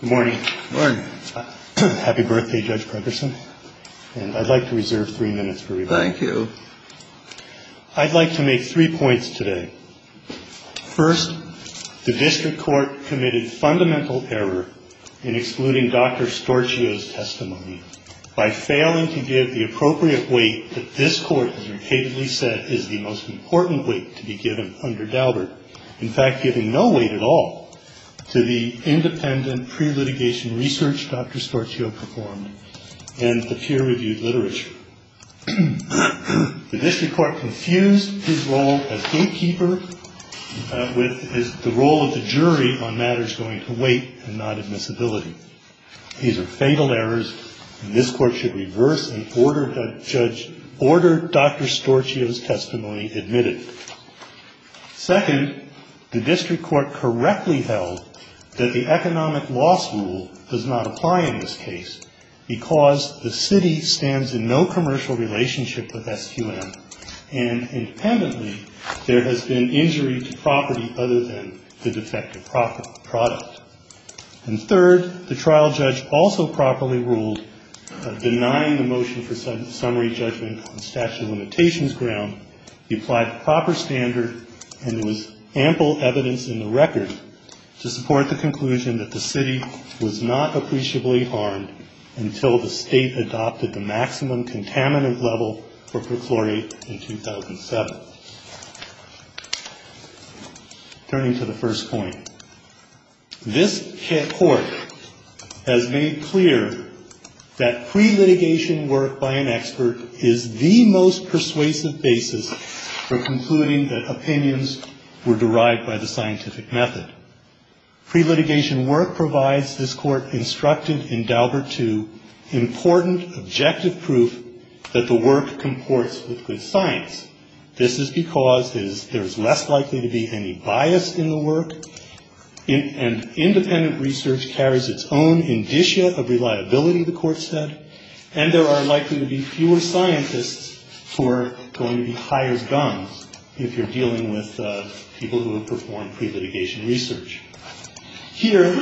Good morning. Happy birthday, Judge Pregerson. I'd like to make three points today. First, the District Court committed fundamental error in excluding Dr. Storchio's testimony by failing to give the appropriate weight that this Court has repeatedly said is the most important weight to be given under Daubert. In fact, giving no weight at all to the independent pre-litigation research Dr. Storchio performed and the peer-reviewed literature. The District Court confused his role as gatekeeper with the role of the jury on matters going to weight and not admissibility. These are fatal errors and this Court should reverse and order Dr. Storchio's testimony admitted. Second, the District Court correctly held that the economic loss rule does not apply in this case because the city stands in no commercial relationship with SQM and independently there has been injury to property other than the defective product. And third, the trial judge also properly ruled that denying the motion for summary judgment on statute of limitations ground applied to proper standard and there was ample evidence in the record to support the conclusion that the city was not appreciably harmed until the state adopted the maximum contaminant level for perchlorate in 2007. Turning to the first point, this Court has made clear that pre-litigation work by an expert is the most persuasive basis for concluding that opinions were derived by the scientific method. Pre-litigation work provides this Court instructed in Daubert II important objective proof that the work comports with good science. This is because there is less likely to be any bias in the work and independent research carries its own indicia of reliability, the Court said, and there are likely to be fewer scientists who are going to be high as guns if you're dealing with people who have performed pre-litigation research. Here,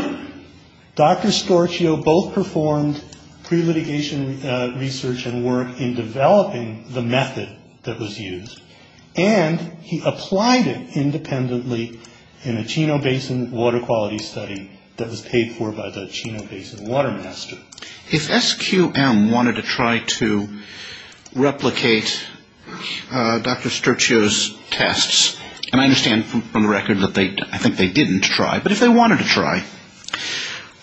Dr. Storchio both performed pre-litigation research and work in developing the method that was used and he applied it independently in a Chino Basin water quality study that was paid for by the Chino Basin Water Master. If SQM wanted to try to replicate Dr. Storchio's tests, and I understand from the record that I think they didn't try, but if they wanted to try,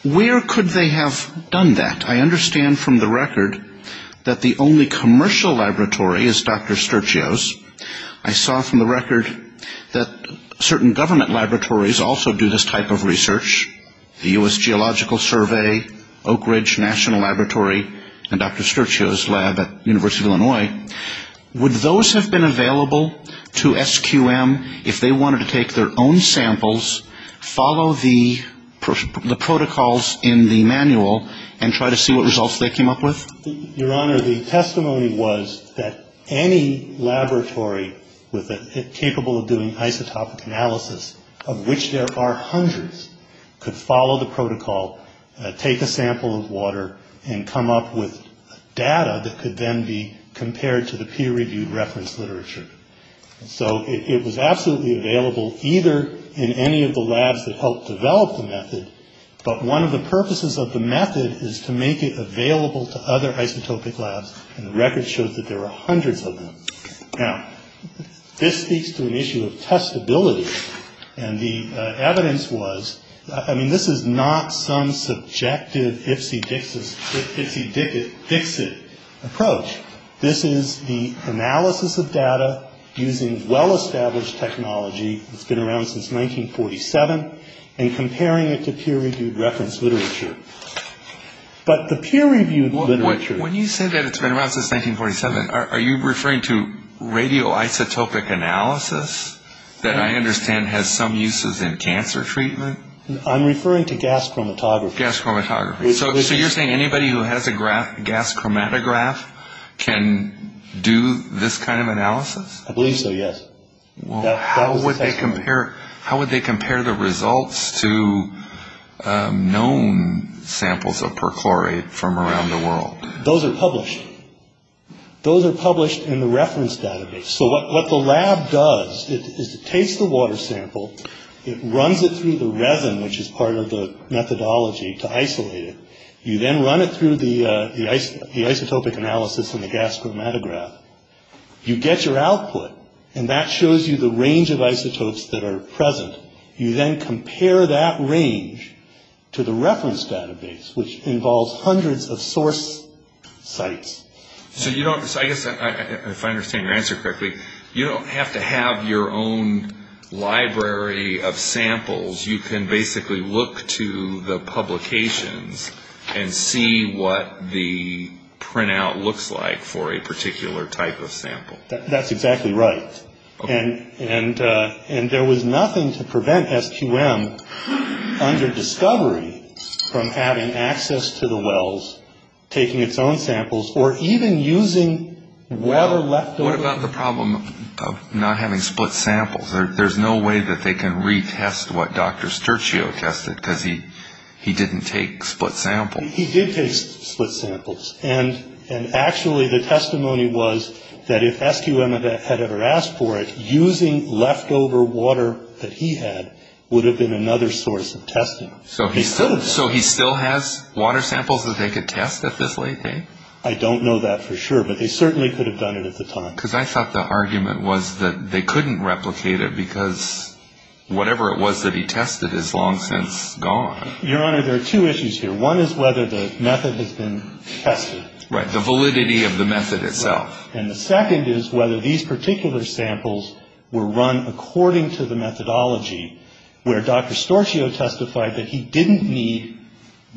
where could they have done that? I understand from the record that the only commercial laboratory is Dr. Storchio's. I saw from the record that certain government laboratories also do this type of research, the U.S. Geological Survey, Oak Ridge National Laboratory, and Dr. Storchio's lab at the University of Illinois. Would those have been available to SQM if they wanted to take their own samples, follow the protocols in the manual, and try to see what results they came up with? Your Honor, the testimony was that any laboratory capable of doing isotopic analysis, of which there are hundreds, could follow the protocol, take a sample of water, and come up with data that could then be compared to the peer-reviewed reference literature. So it was absolutely available either in any of the labs that helped develop the method, but one of the purposes of the method is to make it available to other isotopic labs, and the record shows that there are hundreds of them. Now, this speaks to an issue of testability, and the evidence was, I mean, this is not some subjective ifsy-dixit approach. This is the analysis of data using well-established technology that's been around since 1947 and comparing it to peer-reviewed reference literature. But the peer-reviewed literature... When you say that it's been around since 1947, are you referring to radioisotopic analysis that I understand has some uses in cancer treatment? I'm referring to gas chromatography. Gas chromatography. So you're saying anybody who has a gas chromatograph can do this kind of analysis? I believe so, yes. Well, how would they compare the results to known samples of perchlorate from around the world? Those are published. Those are published in the reference database. So what the lab does is it takes the water sample, it runs it through the resin, which is part of the methodology, to isolate it. You then run it through the isotopic analysis and the gas chromatograph. You get your output, and that shows you the range of isotopes that are present. You then compare that range to the reference database, which involves hundreds of source sites. So I guess if I understand your answer correctly, you don't have to have your own library of samples. You can basically look to the publications and see what the printout looks like for a particular type of sample. That's exactly right. And there was nothing to prevent SQM, under discovery, from having access to the wells, taking its own samples, or even using water left over. What about the problem of not having split samples? There's no way that they can retest what Dr. Sturcio tested, because he didn't take split samples. He did take split samples, and actually the testimony was that if SQM had ever asked for it, using leftover water that he had would have been another source of testing. So he still has water samples that they could test at this late date? I don't know that for sure, but they certainly could have done it at the time. Because I thought the argument was that they couldn't replicate it, because whatever it was that he tested is long since gone. Your Honor, there are two issues here. One is whether the method has been tested. Right. The validity of the method itself. Right. And the second is whether these particular samples were run according to the methodology, where Dr. Sturcio testified that he didn't need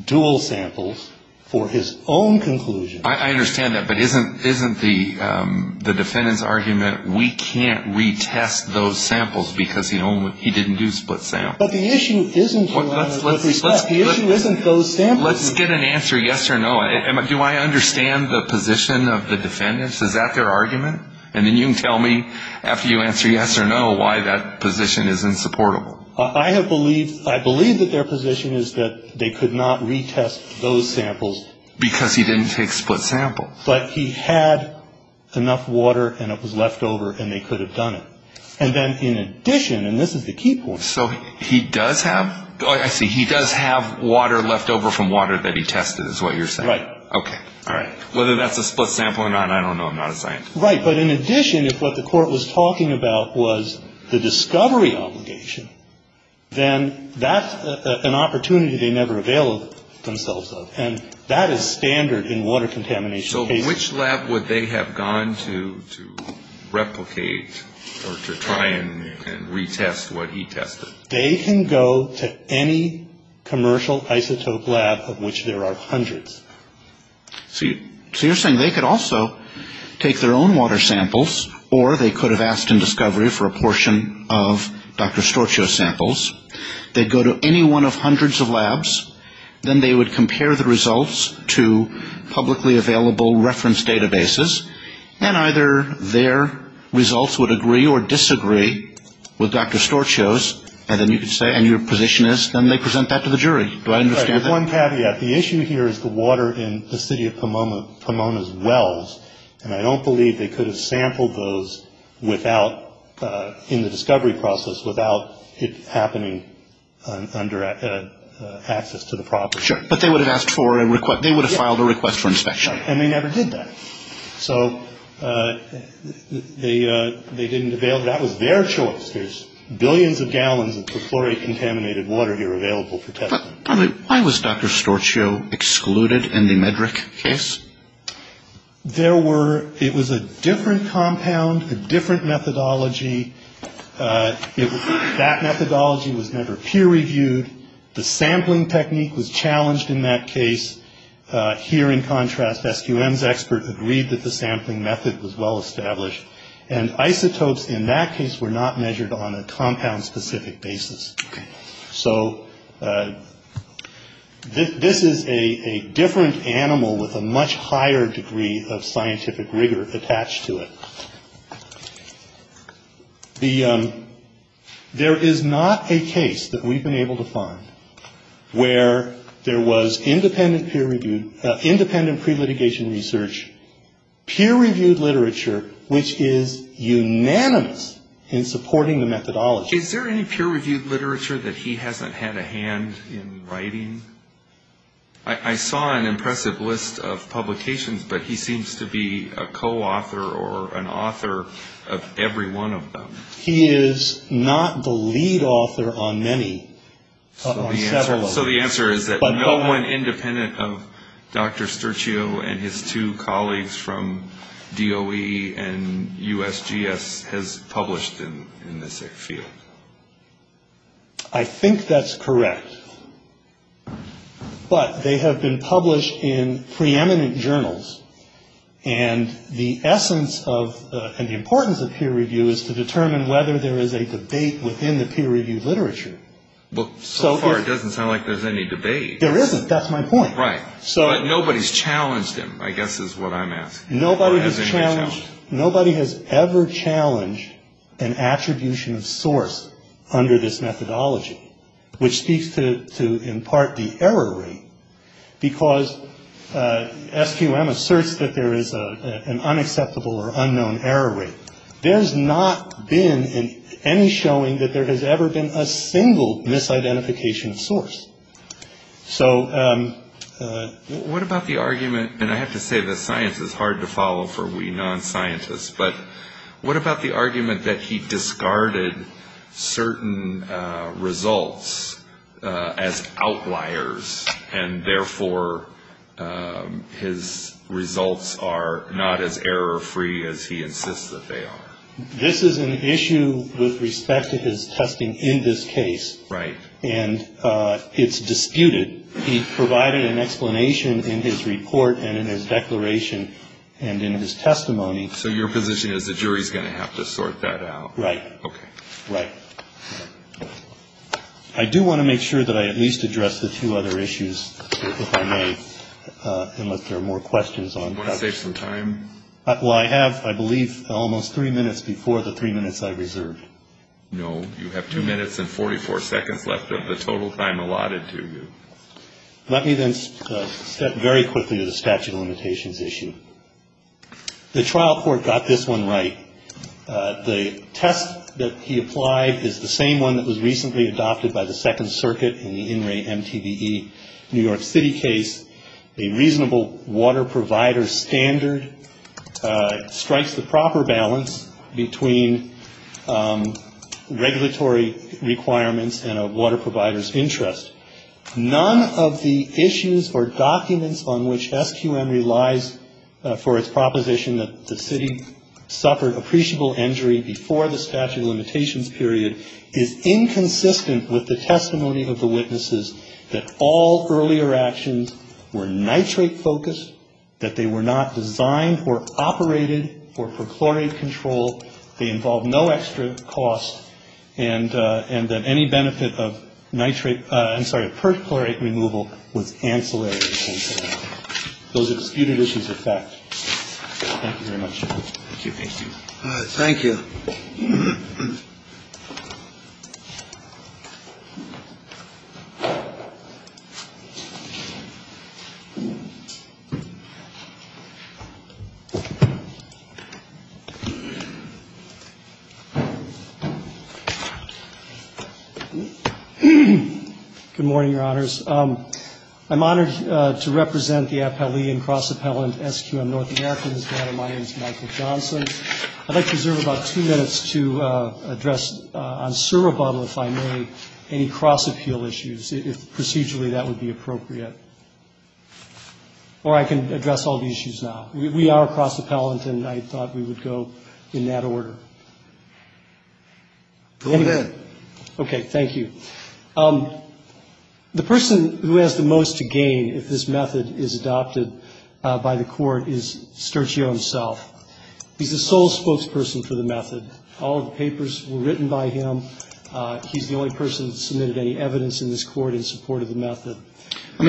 dual samples for his own conclusion. I understand that, but isn't the defendant's argument we can't retest those samples because he didn't do split samples? But the issue isn't, Your Honor, with respect. The issue isn't those samples. Let's get an answer yes or no. Do I understand the position of the defendants? Is that their argument? And then you can tell me, after you answer yes or no, why that position is insupportable. I believe that their position is that they could not retest those samples. Because he didn't take split samples. But he had enough water, and it was leftover, and they could have done it. And then in addition, and this is the key point. So he does have? I see. He does have water leftover from water that he tested is what you're saying. Right. Okay. All right. Whether that's a split sample or not, I don't know. I'm not a scientist. Right. But in addition, if what the court was talking about was the discovery obligation, then that's an opportunity they never availed themselves of. And that is standard in water contamination cases. In which lab would they have gone to replicate or to try and retest what he tested? They can go to any commercial isotope lab of which there are hundreds. So you're saying they could also take their own water samples, or they could have asked in discovery for a portion of Dr. Storcio's samples. They'd go to any one of hundreds of labs. Then they would compare the results to publicly available reference databases. And either their results would agree or disagree with Dr. Storcio's. And then you could say, and your position is, then they present that to the jury. Do I understand that? Right. One caveat. The issue here is the water in the city of Pomona's wells. And I don't believe they could have sampled those without, in the discovery process, without it happening under access to the property. Sure. But they would have asked for a request. They would have filed a request for inspection. And they never did that. So they didn't avail. That was their choice. There's billions of gallons of chloricontaminated water here available for testing. Why was Dr. Storcio excluded in the Medrick case? It was a different compound, a different methodology. That methodology was never peer-reviewed. The sampling technique was challenged in that case. Here, in contrast, SQM's expert agreed that the sampling method was well-established. And isotopes in that case were not measured on a compound-specific basis. So this is a different animal with a much higher degree of scientific rigor attached to it. There is not a case that we've been able to find where there was independent peer-reviewed, independent pre-litigation research, peer-reviewed literature which is unanimous in supporting the methodology. Is there any peer-reviewed literature that he hasn't had a hand in writing? I saw an impressive list of publications, but he seems to be a co-author or an author of every one of them. He is not the lead author on many, on several of them. So the answer is that no one independent of Dr. Storcio and his two colleagues from DOE and USGS has published in this field? I think that's correct. But they have been published in preeminent journals, and the essence of and the importance of peer review is to determine whether there is a debate within the peer-reviewed literature. Well, so far it doesn't sound like there's any debate. There isn't. That's my point. Right. But nobody's challenged him, I guess is what I'm asking. Nobody has ever challenged an attribution of source under this methodology, which speaks to in part the error rate because SQM asserts that there is an unacceptable or unknown error rate. There's not been any showing that there has ever been a single misidentification of source. So what about the argument, and I have to say that science is hard to follow for we non-scientists, but what about the argument that he discarded certain results as outliers and therefore his results are not as error-free as he insists that they are? This is an issue with respect to his testing in this case. Right. And it's disputed. He provided an explanation in his report and in his declaration and in his testimony. So your position is the jury is going to have to sort that out? Right. Okay. Right. I do want to make sure that I at least address the two other issues, if I may, unless there are more questions. Do you want to save some time? Well, I have, I believe, almost three minutes before the three minutes I reserved. No. You have two minutes and 44 seconds left of the total time allotted to you. Let me then step very quickly to the statute of limitations issue. The trial court got this one right. The test that he applied is the same one that was recently adopted by the Second Circuit in the In Re MTBE New York City case. A reasonable water provider standard strikes the proper balance between regulatory requirements and a water provider's interest. None of the issues or documents on which SQM relies for its proposition that the city suffered appreciable injury before the statute of limitations period is inconsistent with the testimony of the witnesses that all earlier actions were nitrate-focused, that they were not designed or operated for perchlorate control, they involved no extra cost, and that any benefit of nitrate, I'm sorry, perchlorate removal was ancillary to the statute. Those are disputed issues of fact. Thank you very much. Thank you. Thank you. Thank you. Good morning, Your Honors. I'm honored to represent the appellee and cross-appellant SQM North America in this matter. My name is Michael Johnson. I'd like to reserve about two minutes to address on servo bottom, if I may, any cross-appeal issues, if procedurally that would be appropriate. Or I can address all the issues now. We are cross-appellant, and I thought we would go in that order. Go ahead. Okay. Thank you. The person who has the most to gain if this method is adopted by the Court is Stercio himself. He's the sole spokesperson for the method. All of the papers were written by him. He's the only person that submitted any evidence in this Court in support of the method. I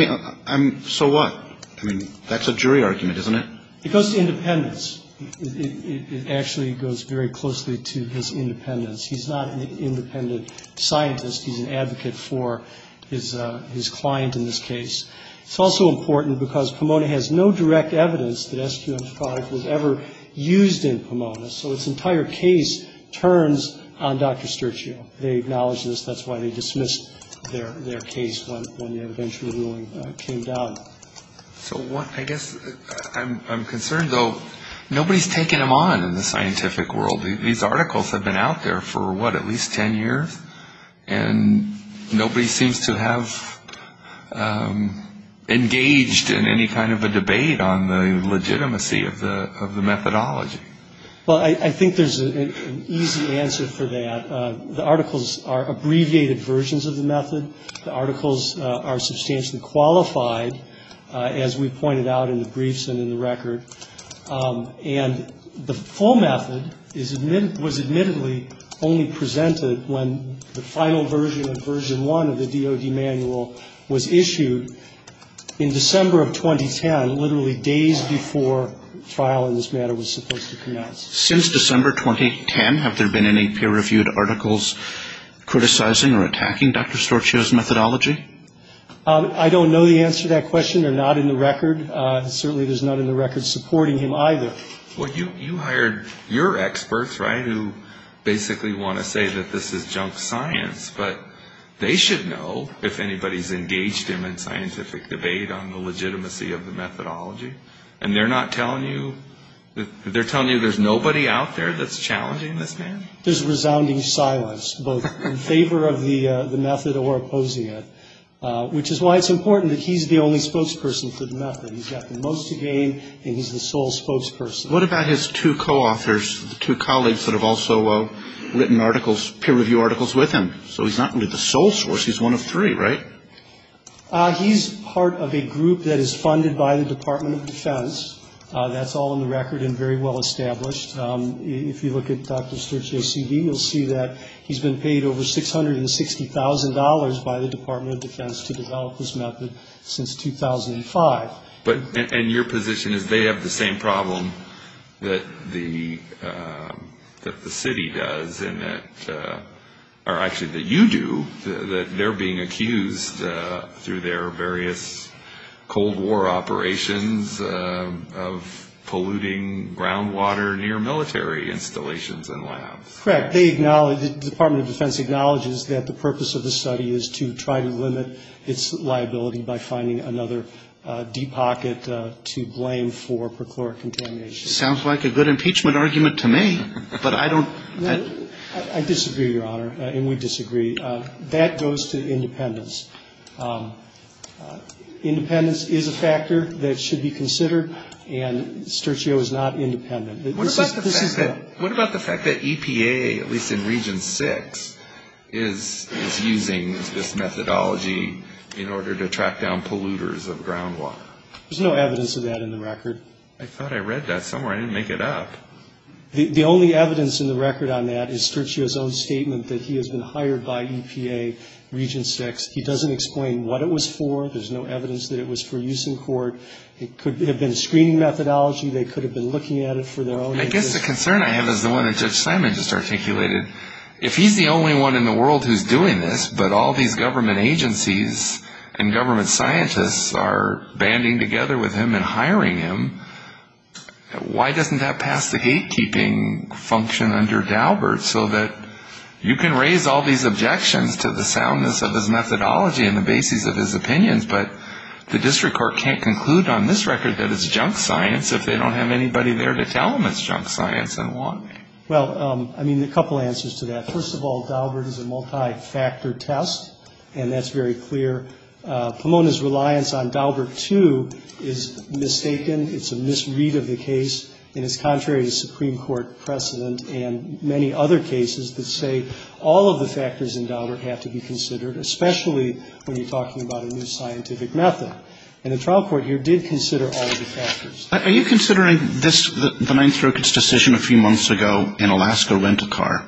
mean, so what? I mean, that's a jury argument, isn't it? It goes to independence. It actually goes very closely to his independence. He's not an independent scientist. He's an advocate for his client in this case. It's also important because Pomona has no direct evidence that SQM 5 was ever used in Pomona, so its entire case turns on Dr. Stercio. They acknowledge this. That's why they dismissed their case when the interventional ruling came down. So I guess I'm concerned, though, nobody's taken him on in the scientific world. These articles have been out there for, what, at least ten years? And nobody seems to have engaged in any kind of a debate on the legitimacy of the methodology. Well, I think there's an easy answer for that. The articles are abbreviated versions of the method. The articles are substantially qualified, as we pointed out in the briefs and in the record. And the full method was admittedly only presented when the final version of version one of the DoD manual was issued in December of 2010, literally days before trial in this matter was supposed to commence. Since December 2010, have there been any peer-reviewed articles criticizing or attacking Dr. Stercio's methodology? I don't know the answer to that question. They're not in the record. Certainly there's none in the record supporting him either. Well, you hired your experts, right, who basically want to say that this is junk science, but they should know if anybody's engaged him in scientific debate on the legitimacy of the methodology. And they're not telling you? They're telling you there's nobody out there that's challenging this man? There's resounding silence, both in favor of the method or opposing it, which is why it's important that he's the only spokesperson for the method. He's got the most to gain, and he's the sole spokesperson. What about his two co-authors, two colleagues that have also written articles, peer-reviewed articles with him? So he's not really the sole source. He's one of three, right? He's part of a group that is funded by the Department of Defense. That's all in the record and very well established. If you look at Dr. Stercio's CV, you'll see that he's been paid over $660,000 by the Department of Defense to develop this method since 2005. And your position is they have the same problem that the city does, or actually that you do, that they're being accused through their various Cold War operations of polluting groundwater near military installations and labs. Correct. The Department of Defense acknowledges that the purpose of the study is to try to limit its liability by finding another deep pocket to blame for perchloric contamination. Sounds like a good impeachment argument to me, but I don't — I disagree, Your Honor, and we disagree. That goes to independence. Independence is a factor that should be considered, and Stercio is not independent. What about the fact that EPA, at least in Region 6, is using this methodology in order to track down polluters of groundwater? There's no evidence of that in the record. I thought I read that somewhere. I didn't make it up. The only evidence in the record on that is Stercio's own statement that he has been hired by EPA, Region 6. He doesn't explain what it was for. There's no evidence that it was for use in court. It could have been screening methodology. They could have been looking at it for their own interest. I guess the concern I have is the one that Judge Simon just articulated. If he's the only one in the world who's doing this, but all these government agencies and government scientists are banding together with him and hiring him, why doesn't that pass the gatekeeping function under Daubert so that you can raise all these objections to the soundness of his methodology and the bases of his opinions, but the district court can't conclude on this record that it's junk science if they don't have anybody there to tell them it's junk science, and why? Well, I mean, a couple answers to that. First of all, Daubert is a multi-factor test, and that's very clear. Pomona's reliance on Daubert II is mistaken. It's a misread of the case, and it's contrary to Supreme Court precedent and many other cases that say all of the factors in Daubert have to be considered, especially when you're talking about a new scientific method. And the trial court here did consider all of the factors. Are you considering this, the Ninth Circuit's decision a few months ago in Alaska Rent-A-Car,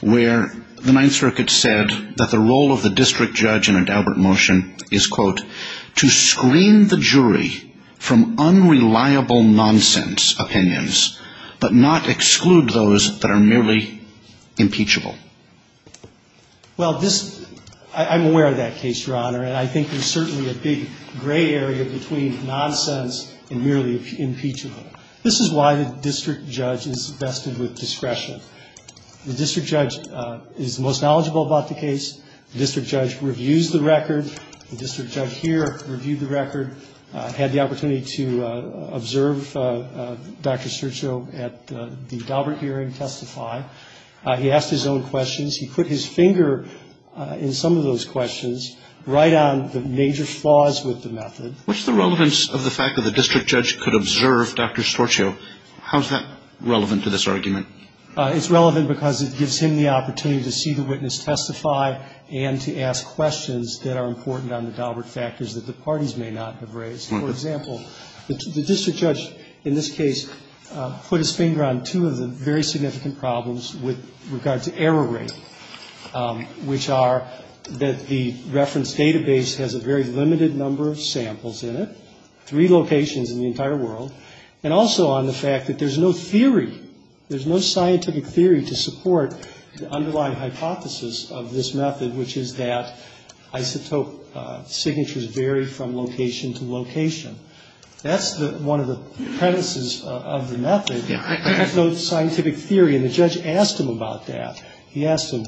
where the Ninth Circuit said that the role of the district judge in a Daubert motion is, quote, to screen the jury from unreliable nonsense opinions, but not exclude those that are merely impeachable? Well, I'm aware of that case, Your Honor, and I think there's certainly a big gray area between nonsense and merely impeachable. This is why the district judge is vested with discretion. The district judge is the most knowledgeable about the case. The district judge reviews the record. The district judge here reviewed the record, had the opportunity to observe Dr. He asked his own questions. He put his finger in some of those questions, right on the major flaws with the method. What's the relevance of the fact that the district judge could observe Dr. How is that relevant to this argument? It's relevant because it gives him the opportunity to see the witness testify and to ask questions that are important on the Daubert factors that the parties may not have raised. For example, the district judge in this case put his finger on two of the very significant problems with regard to error rate, which are that the reference database has a very limited number of samples in it, three locations in the entire world, and also on the fact that there's no theory, there's no scientific theory to support the underlying hypothesis of this method, which is that isotope signatures vary from location to location. That's one of the premises of the method. There's no scientific theory, and the judge asked him about that. He asked him,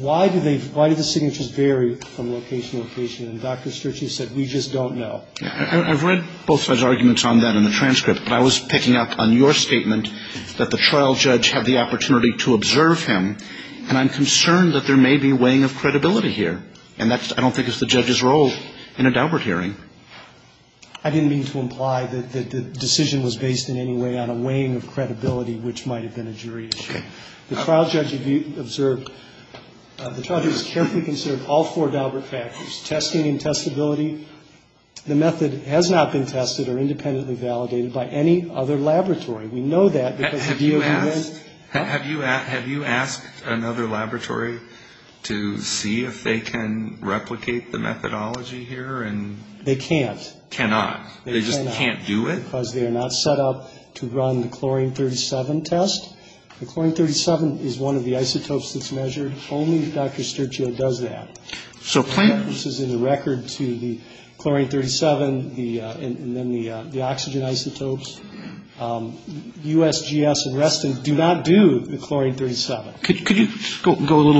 why do they, why do the signatures vary from location to location? And Dr. Sturgeon said, we just don't know. I've read both sides' arguments on that in the transcript, but I was picking up on your statement that the trial judge had the opportunity to observe him, and I'm concerned that there may be weighing of credibility here, and that's, I don't think, is the judge's role in a Daubert hearing. I didn't mean to imply that the decision was based in any way on a weighing of credibility, which might have been a jury issue. The trial judge observed, the trial judge carefully considered all four Daubert factors, testing and testability. The method has not been tested or independently validated by any other laboratory. We know that because the DOE went up. Have you asked another laboratory to see if they can replicate the methodology here? They can't. Cannot. They cannot. They just can't do it? Because they are not set up to run the Chlorine 37 test. The Chlorine 37 is one of the isotopes that's measured. Only Dr. Sturgeon does that. So plant. This is in the record to the Chlorine 37, and then the oxygen isotopes. USGS and Reston do not do the Chlorine 37. Could you go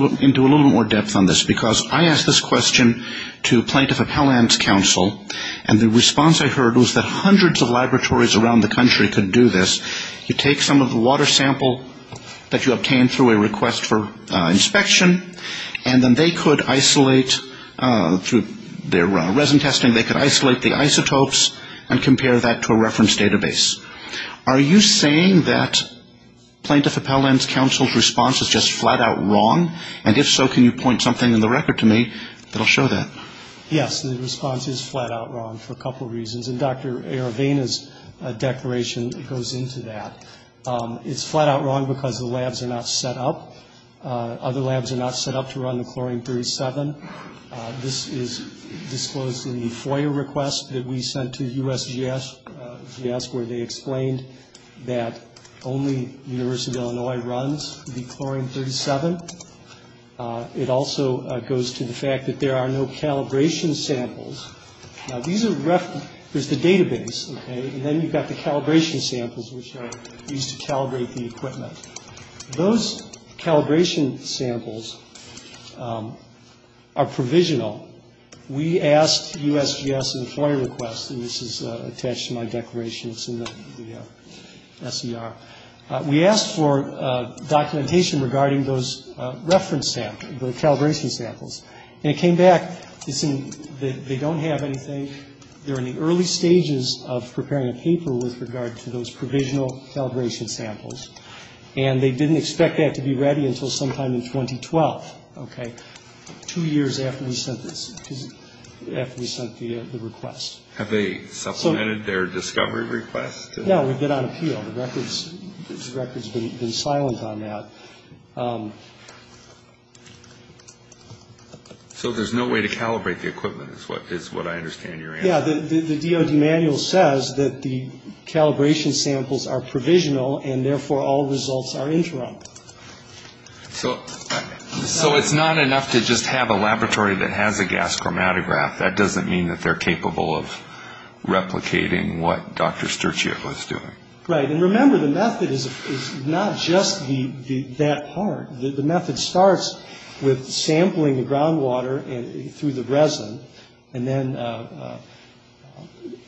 into a little more depth on this? Because I asked this question to a plaintiff of Helland's counsel, and the response I heard was that hundreds of laboratories around the country could do this. You take some of the water sample that you obtained through a request for inspection, and then they could isolate through their resin testing, and then they could isolate the isotopes and compare that to a reference database. Are you saying that Plaintiff of Helland's counsel's response is just flat-out wrong? And if so, can you point something in the record to me that will show that? Yes, the response is flat-out wrong for a couple reasons, and Dr. Aravena's declaration goes into that. It's flat-out wrong because the labs are not set up. Other labs are not set up to run the Chlorine 37. This is disclosed in the FOIA request that we sent to USGS, where they explained that only the University of Illinois runs the Chlorine 37. It also goes to the fact that there are no calibration samples. Now, these are the reference. There's the database, okay, and then you've got the calibration samples, which are used to calibrate the equipment. Those calibration samples are provisional. We asked USGS FOIA requests, and this is attached to my declaration. It's in the SCR. We asked for documentation regarding those reference samples, the calibration samples, and it came back that they don't have anything. They're in the early stages of preparing a paper with regard to those provisional calibration samples, and they didn't expect that to be ready until sometime in 2012, okay, two years after we sent this, after we sent the request. Have they supplemented their discovery request? No, we've been on appeal. The record's been silent on that. So there's no way to calibrate the equipment is what I understand your answer. Yeah, the DOD manual says that the calibration samples are provisional and therefore all results are interrupted. So it's not enough to just have a laboratory that has a gas chromatograph. That doesn't mean that they're capable of replicating what Dr. Sturczyk was doing. Right, and remember, the method is not just that part. The method starts with sampling the groundwater through the resin and then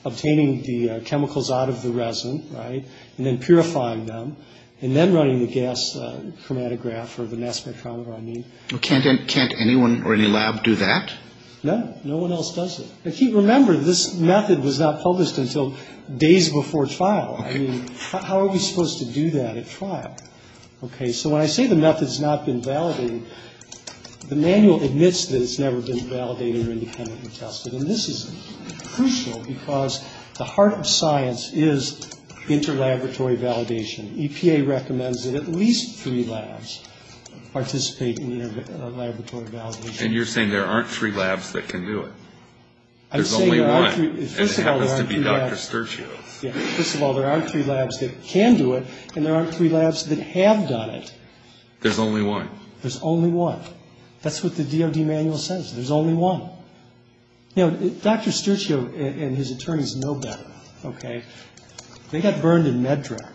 obtaining the chemicals out of the resin, right, and then purifying them and then running the gas chromatograph or the mass spectrometer on me. Can't anyone or any lab do that? No, no one else does it. If you remember, this method was not published until days before trial. I mean, how are we supposed to do that at trial? Okay, so when I say the method's not been validated, the manual admits that it's never been validated or independently tested. And this is crucial because the heart of science is interlaboratory validation. EPA recommends that at least three labs participate in interlaboratory validation. And you're saying there aren't three labs that can do it? There's only one. I'm saying there aren't three labs. It happens to be Dr. Sturczyk. First of all, there aren't three labs that can do it and there aren't three labs that have done it. There's only one. There's only one. That's what the DOD manual says. There's only one. Now, Dr. Sturczyk and his attorneys know better, okay. They got burned in MedDRAC,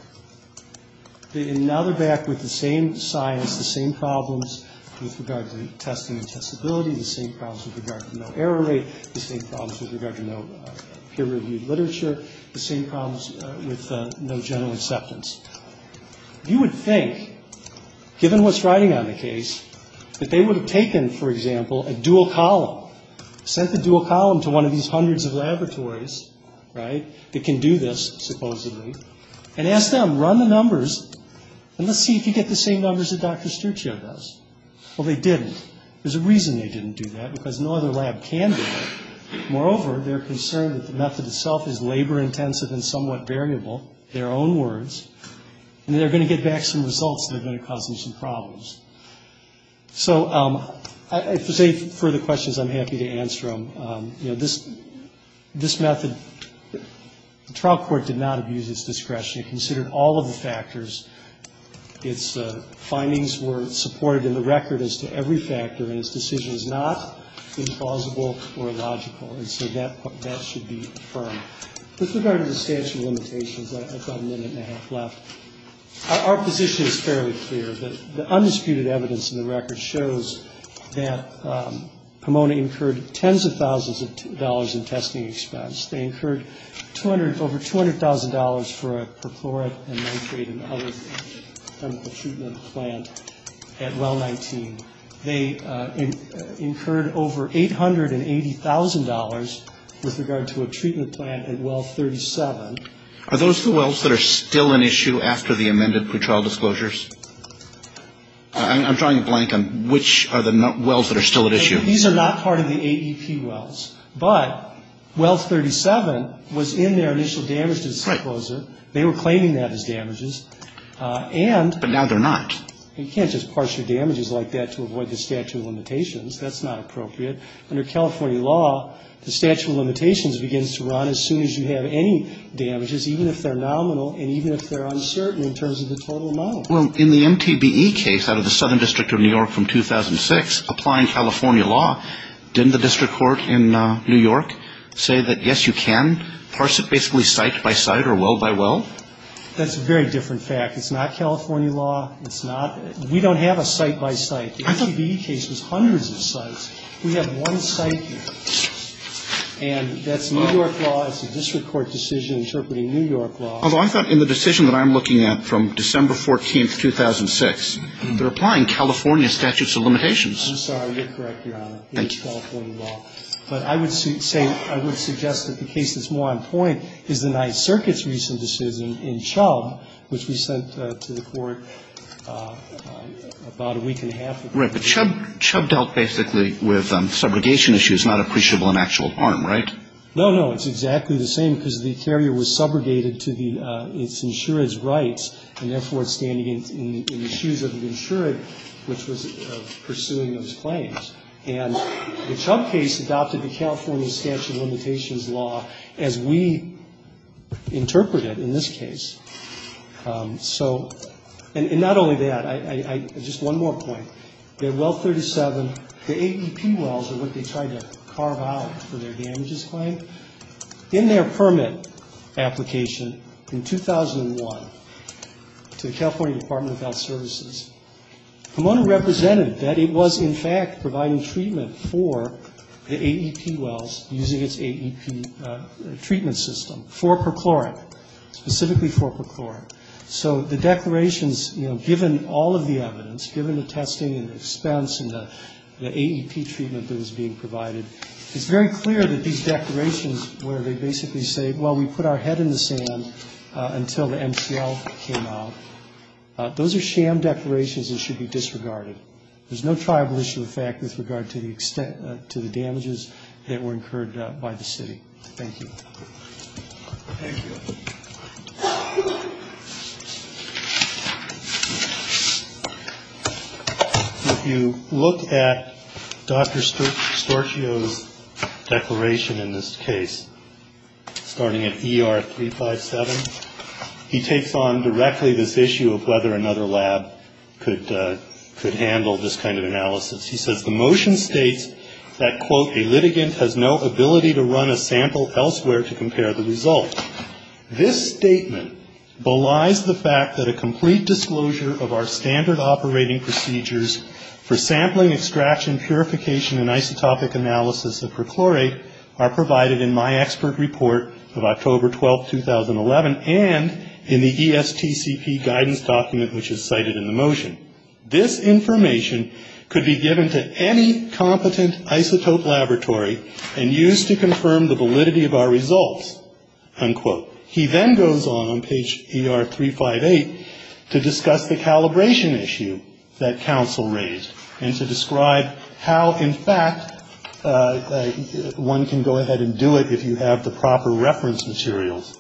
and now they're back with the same science, the same problems with regard to testing and testability, the same problems with regard to no error rate, the same problems with regard to no peer-reviewed literature, the same problems with no general acceptance. You would think, given what's riding on the case, that they would have taken, for example, a dual column, sent the dual column to one of these hundreds of laboratories, right, that can do this, supposedly, and asked them, run the numbers and let's see if you get the same numbers that Dr. Sturczyk does. Well, they didn't. There's a reason they didn't do that because no other lab can do that. Moreover, they're concerned that the method itself is labor-intensive and somewhat variable, their own words, and they're going to get back some results that are going to cause them some problems. So if there's any further questions, I'm happy to answer them. You know, this method, the trial court did not abuse its discretion. It considered all of the factors. Its findings were supported in the record as to every factor, and its decision is not implausible or illogical, and so that should be affirmed. With regard to the statute of limitations, I've got a minute and a half left. Our position is fairly clear. The undisputed evidence in the record shows that Pomona incurred tens of thousands of dollars in testing expense. They incurred over $200,000 for a perchlorate and nitrate and other chemical treatment plant at Well 19. They incurred over $880,000 with regard to a treatment plant at Well 37. Are those the wells that are still in issue after the amended pretrial disclosures? I'm drawing a blank on which are the wells that are still at issue. These are not part of the AEP wells. But Well 37 was in their initial damage disclosure. They were claiming that as damages. But now they're not. You can't just parse your damages like that to avoid the statute of limitations. That's not appropriate. Under California law, the statute of limitations begins to run as soon as you have any damages, even if they're nominal and even if they're uncertain in terms of the total amount. Well, in the MTBE case out of the Southern District of New York from 2006, applying California law, didn't the district court in New York say that, yes, you can parse it basically site by site or well by well? That's a very different fact. It's not California law. It's not. We don't have a site by site. The MTBE case was hundreds of sites. We have one site here. And that's New York law. It's a district court decision interpreting New York law. Although I thought in the decision that I'm looking at from December 14th, 2006, they're applying California statutes of limitations. I'm sorry. You're correct, Your Honor. Thank you. It's California law. But I would suggest that the case that's more on point is the Ninth Circuit's recent decision in Chubb, which we sent to the Court about a week and a half ago. Right. But Chubb dealt basically with subrogation issues, not appreciable in actual harm, right? No, no. It's exactly the same because the carrier was subrogated to the insured's rights and therefore it's standing in the shoes of the insured, which was pursuing those claims. And the Chubb case adopted the California statute of limitations law as we interpreted in this case. So, and not only that, just one more point. The Well 37, the AEP wells are what they tried to carve out for their damages claim. In their permit application in 2001 to the California Department of Health Services, Pomona represented that it was in fact providing treatment for the AEP wells using its AEP treatment system for perchloric, specifically for perchloric. So the declarations, you know, given all of the evidence, given the testing and the expense and the AEP treatment that was being provided, it's very clear that these declarations where they basically say, well, we put our head in the sand until the MCL came out, those are sham declarations and should be disregarded. There's no tribal issue of fact with regard to the extent to the damages that were incurred by the city. Thank you. If you look at Dr. Storchio's declaration in this case, starting at ER 357, he takes on directly this issue of whether another lab could handle this kind of analysis. He says, the motion states that, quote, a litigant has no ability to run a sample elsewhere to compare the results. This statement belies the fact that a complete disclosure of our standard operating procedures for sampling, extraction, purification, and isotopic analysis of perchlorate are provided in my expert report of October 12th, 2011, and in the ESTCP guidance document, which is cited in the motion. This information could be given to any competent isotope laboratory and used to confirm the validity of our results, unquote. He then goes on, on page ER 358, to discuss the calibration issue that he has, and to describe how, in fact, one can go ahead and do it if you have the proper reference materials.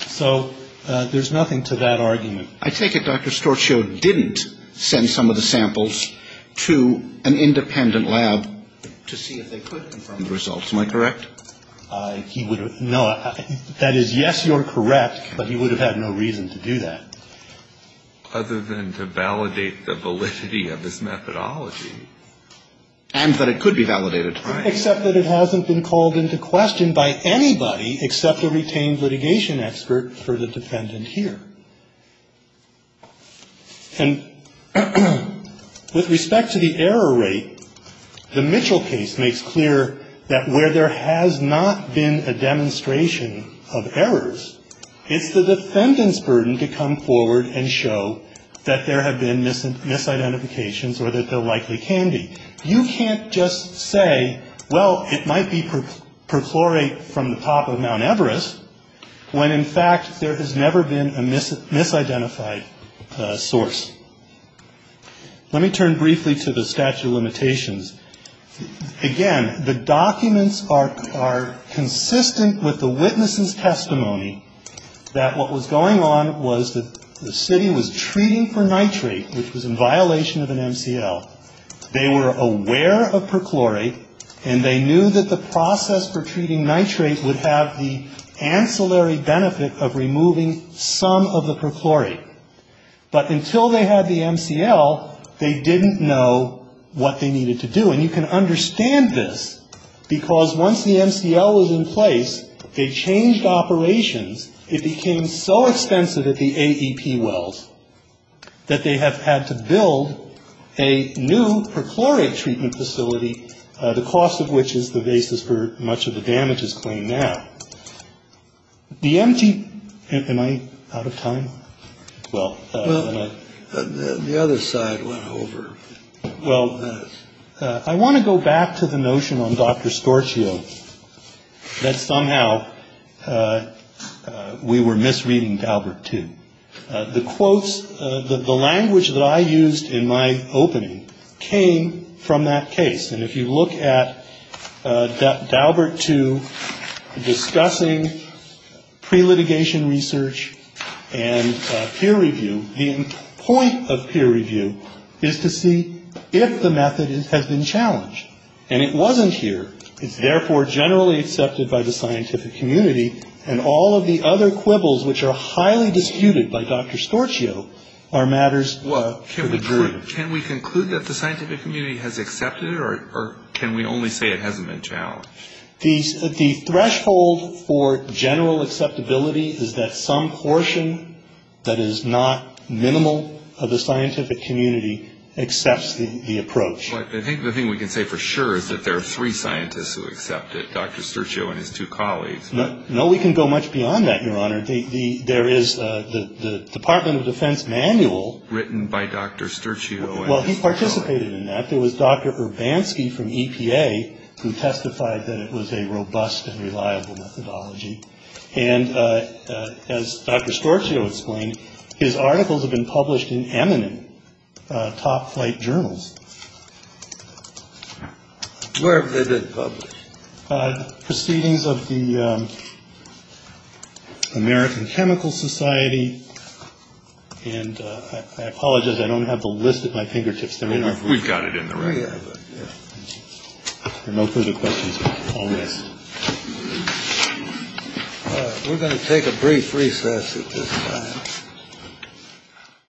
So there's nothing to that argument. I take it Dr. Storchio didn't send some of the samples to an independent lab to see if they could confirm the results. Am I correct? No. That is, yes, you're correct, but he would have had no reason to do that. Other than to validate the validity of his methodology. And that it could be validated. Except that it hasn't been called into question by anybody except a retained litigation expert for the defendant here. And with respect to the error rate, the Mitchell case makes clear that where there has not been a demonstration of errors, it's the defendant's burden to come forward and show that there have been misidentifications or that there likely can be. You can't just say, well, it might be perchlorate from the top of Mount Everest, when, in fact, there has never been a misidentified source. Again, the documents are consistent with the witness's testimony that what was going on was that the city was treating for nitrate, which was in violation of an MCL. They were aware of perchlorate, and they knew that the process for treating nitrate would have the ancillary benefit of removing some of the perchlorate. But until they had the MCL, they didn't know what they needed to do. And you can understand this, because once the MCL was in place, they changed operations. It became so expensive at the AEP wells that they have had to build a new perchlorate treatment facility, the cost of which is the basis for much of the damages claimed now. The empty. Am I out of time? Well, the other side went over. Well, I want to go back to the notion on Dr. Storchio that somehow we were misreading Daubert too. The quotes, the language that I used in my opening came from that case. And if you look at Daubert too discussing pre-litigation research and peer review, the point of peer review is to see if the method has been challenged. And it wasn't here. It's therefore generally accepted by the scientific community. And all of the other quibbles which are highly disputed by Dr. Storchio are matters for the jury. Can we conclude that the scientific community has accepted it, or can we only say it hasn't been challenged? The threshold for general acceptability is that some portion that is not minimal of the scientific community accepts the approach. I think the thing we can say for sure is that there are three scientists who accept it, Dr. Storchio and his two colleagues. No, we can go much beyond that, Your Honor. There is the Department of Defense manual. Written by Dr. Storchio and his colleagues. Well, he participated in that. There was Dr. Urbanski from EPA who testified that it was a robust and reliable methodology. And as Dr. Storchio explained, his articles have been published in eminent top flight journals. Where have they been published? Proceedings of the American Chemical Society. And I apologize. I don't have the list at my fingertips. We've got it in the right. No further questions. We're going to take a brief recess.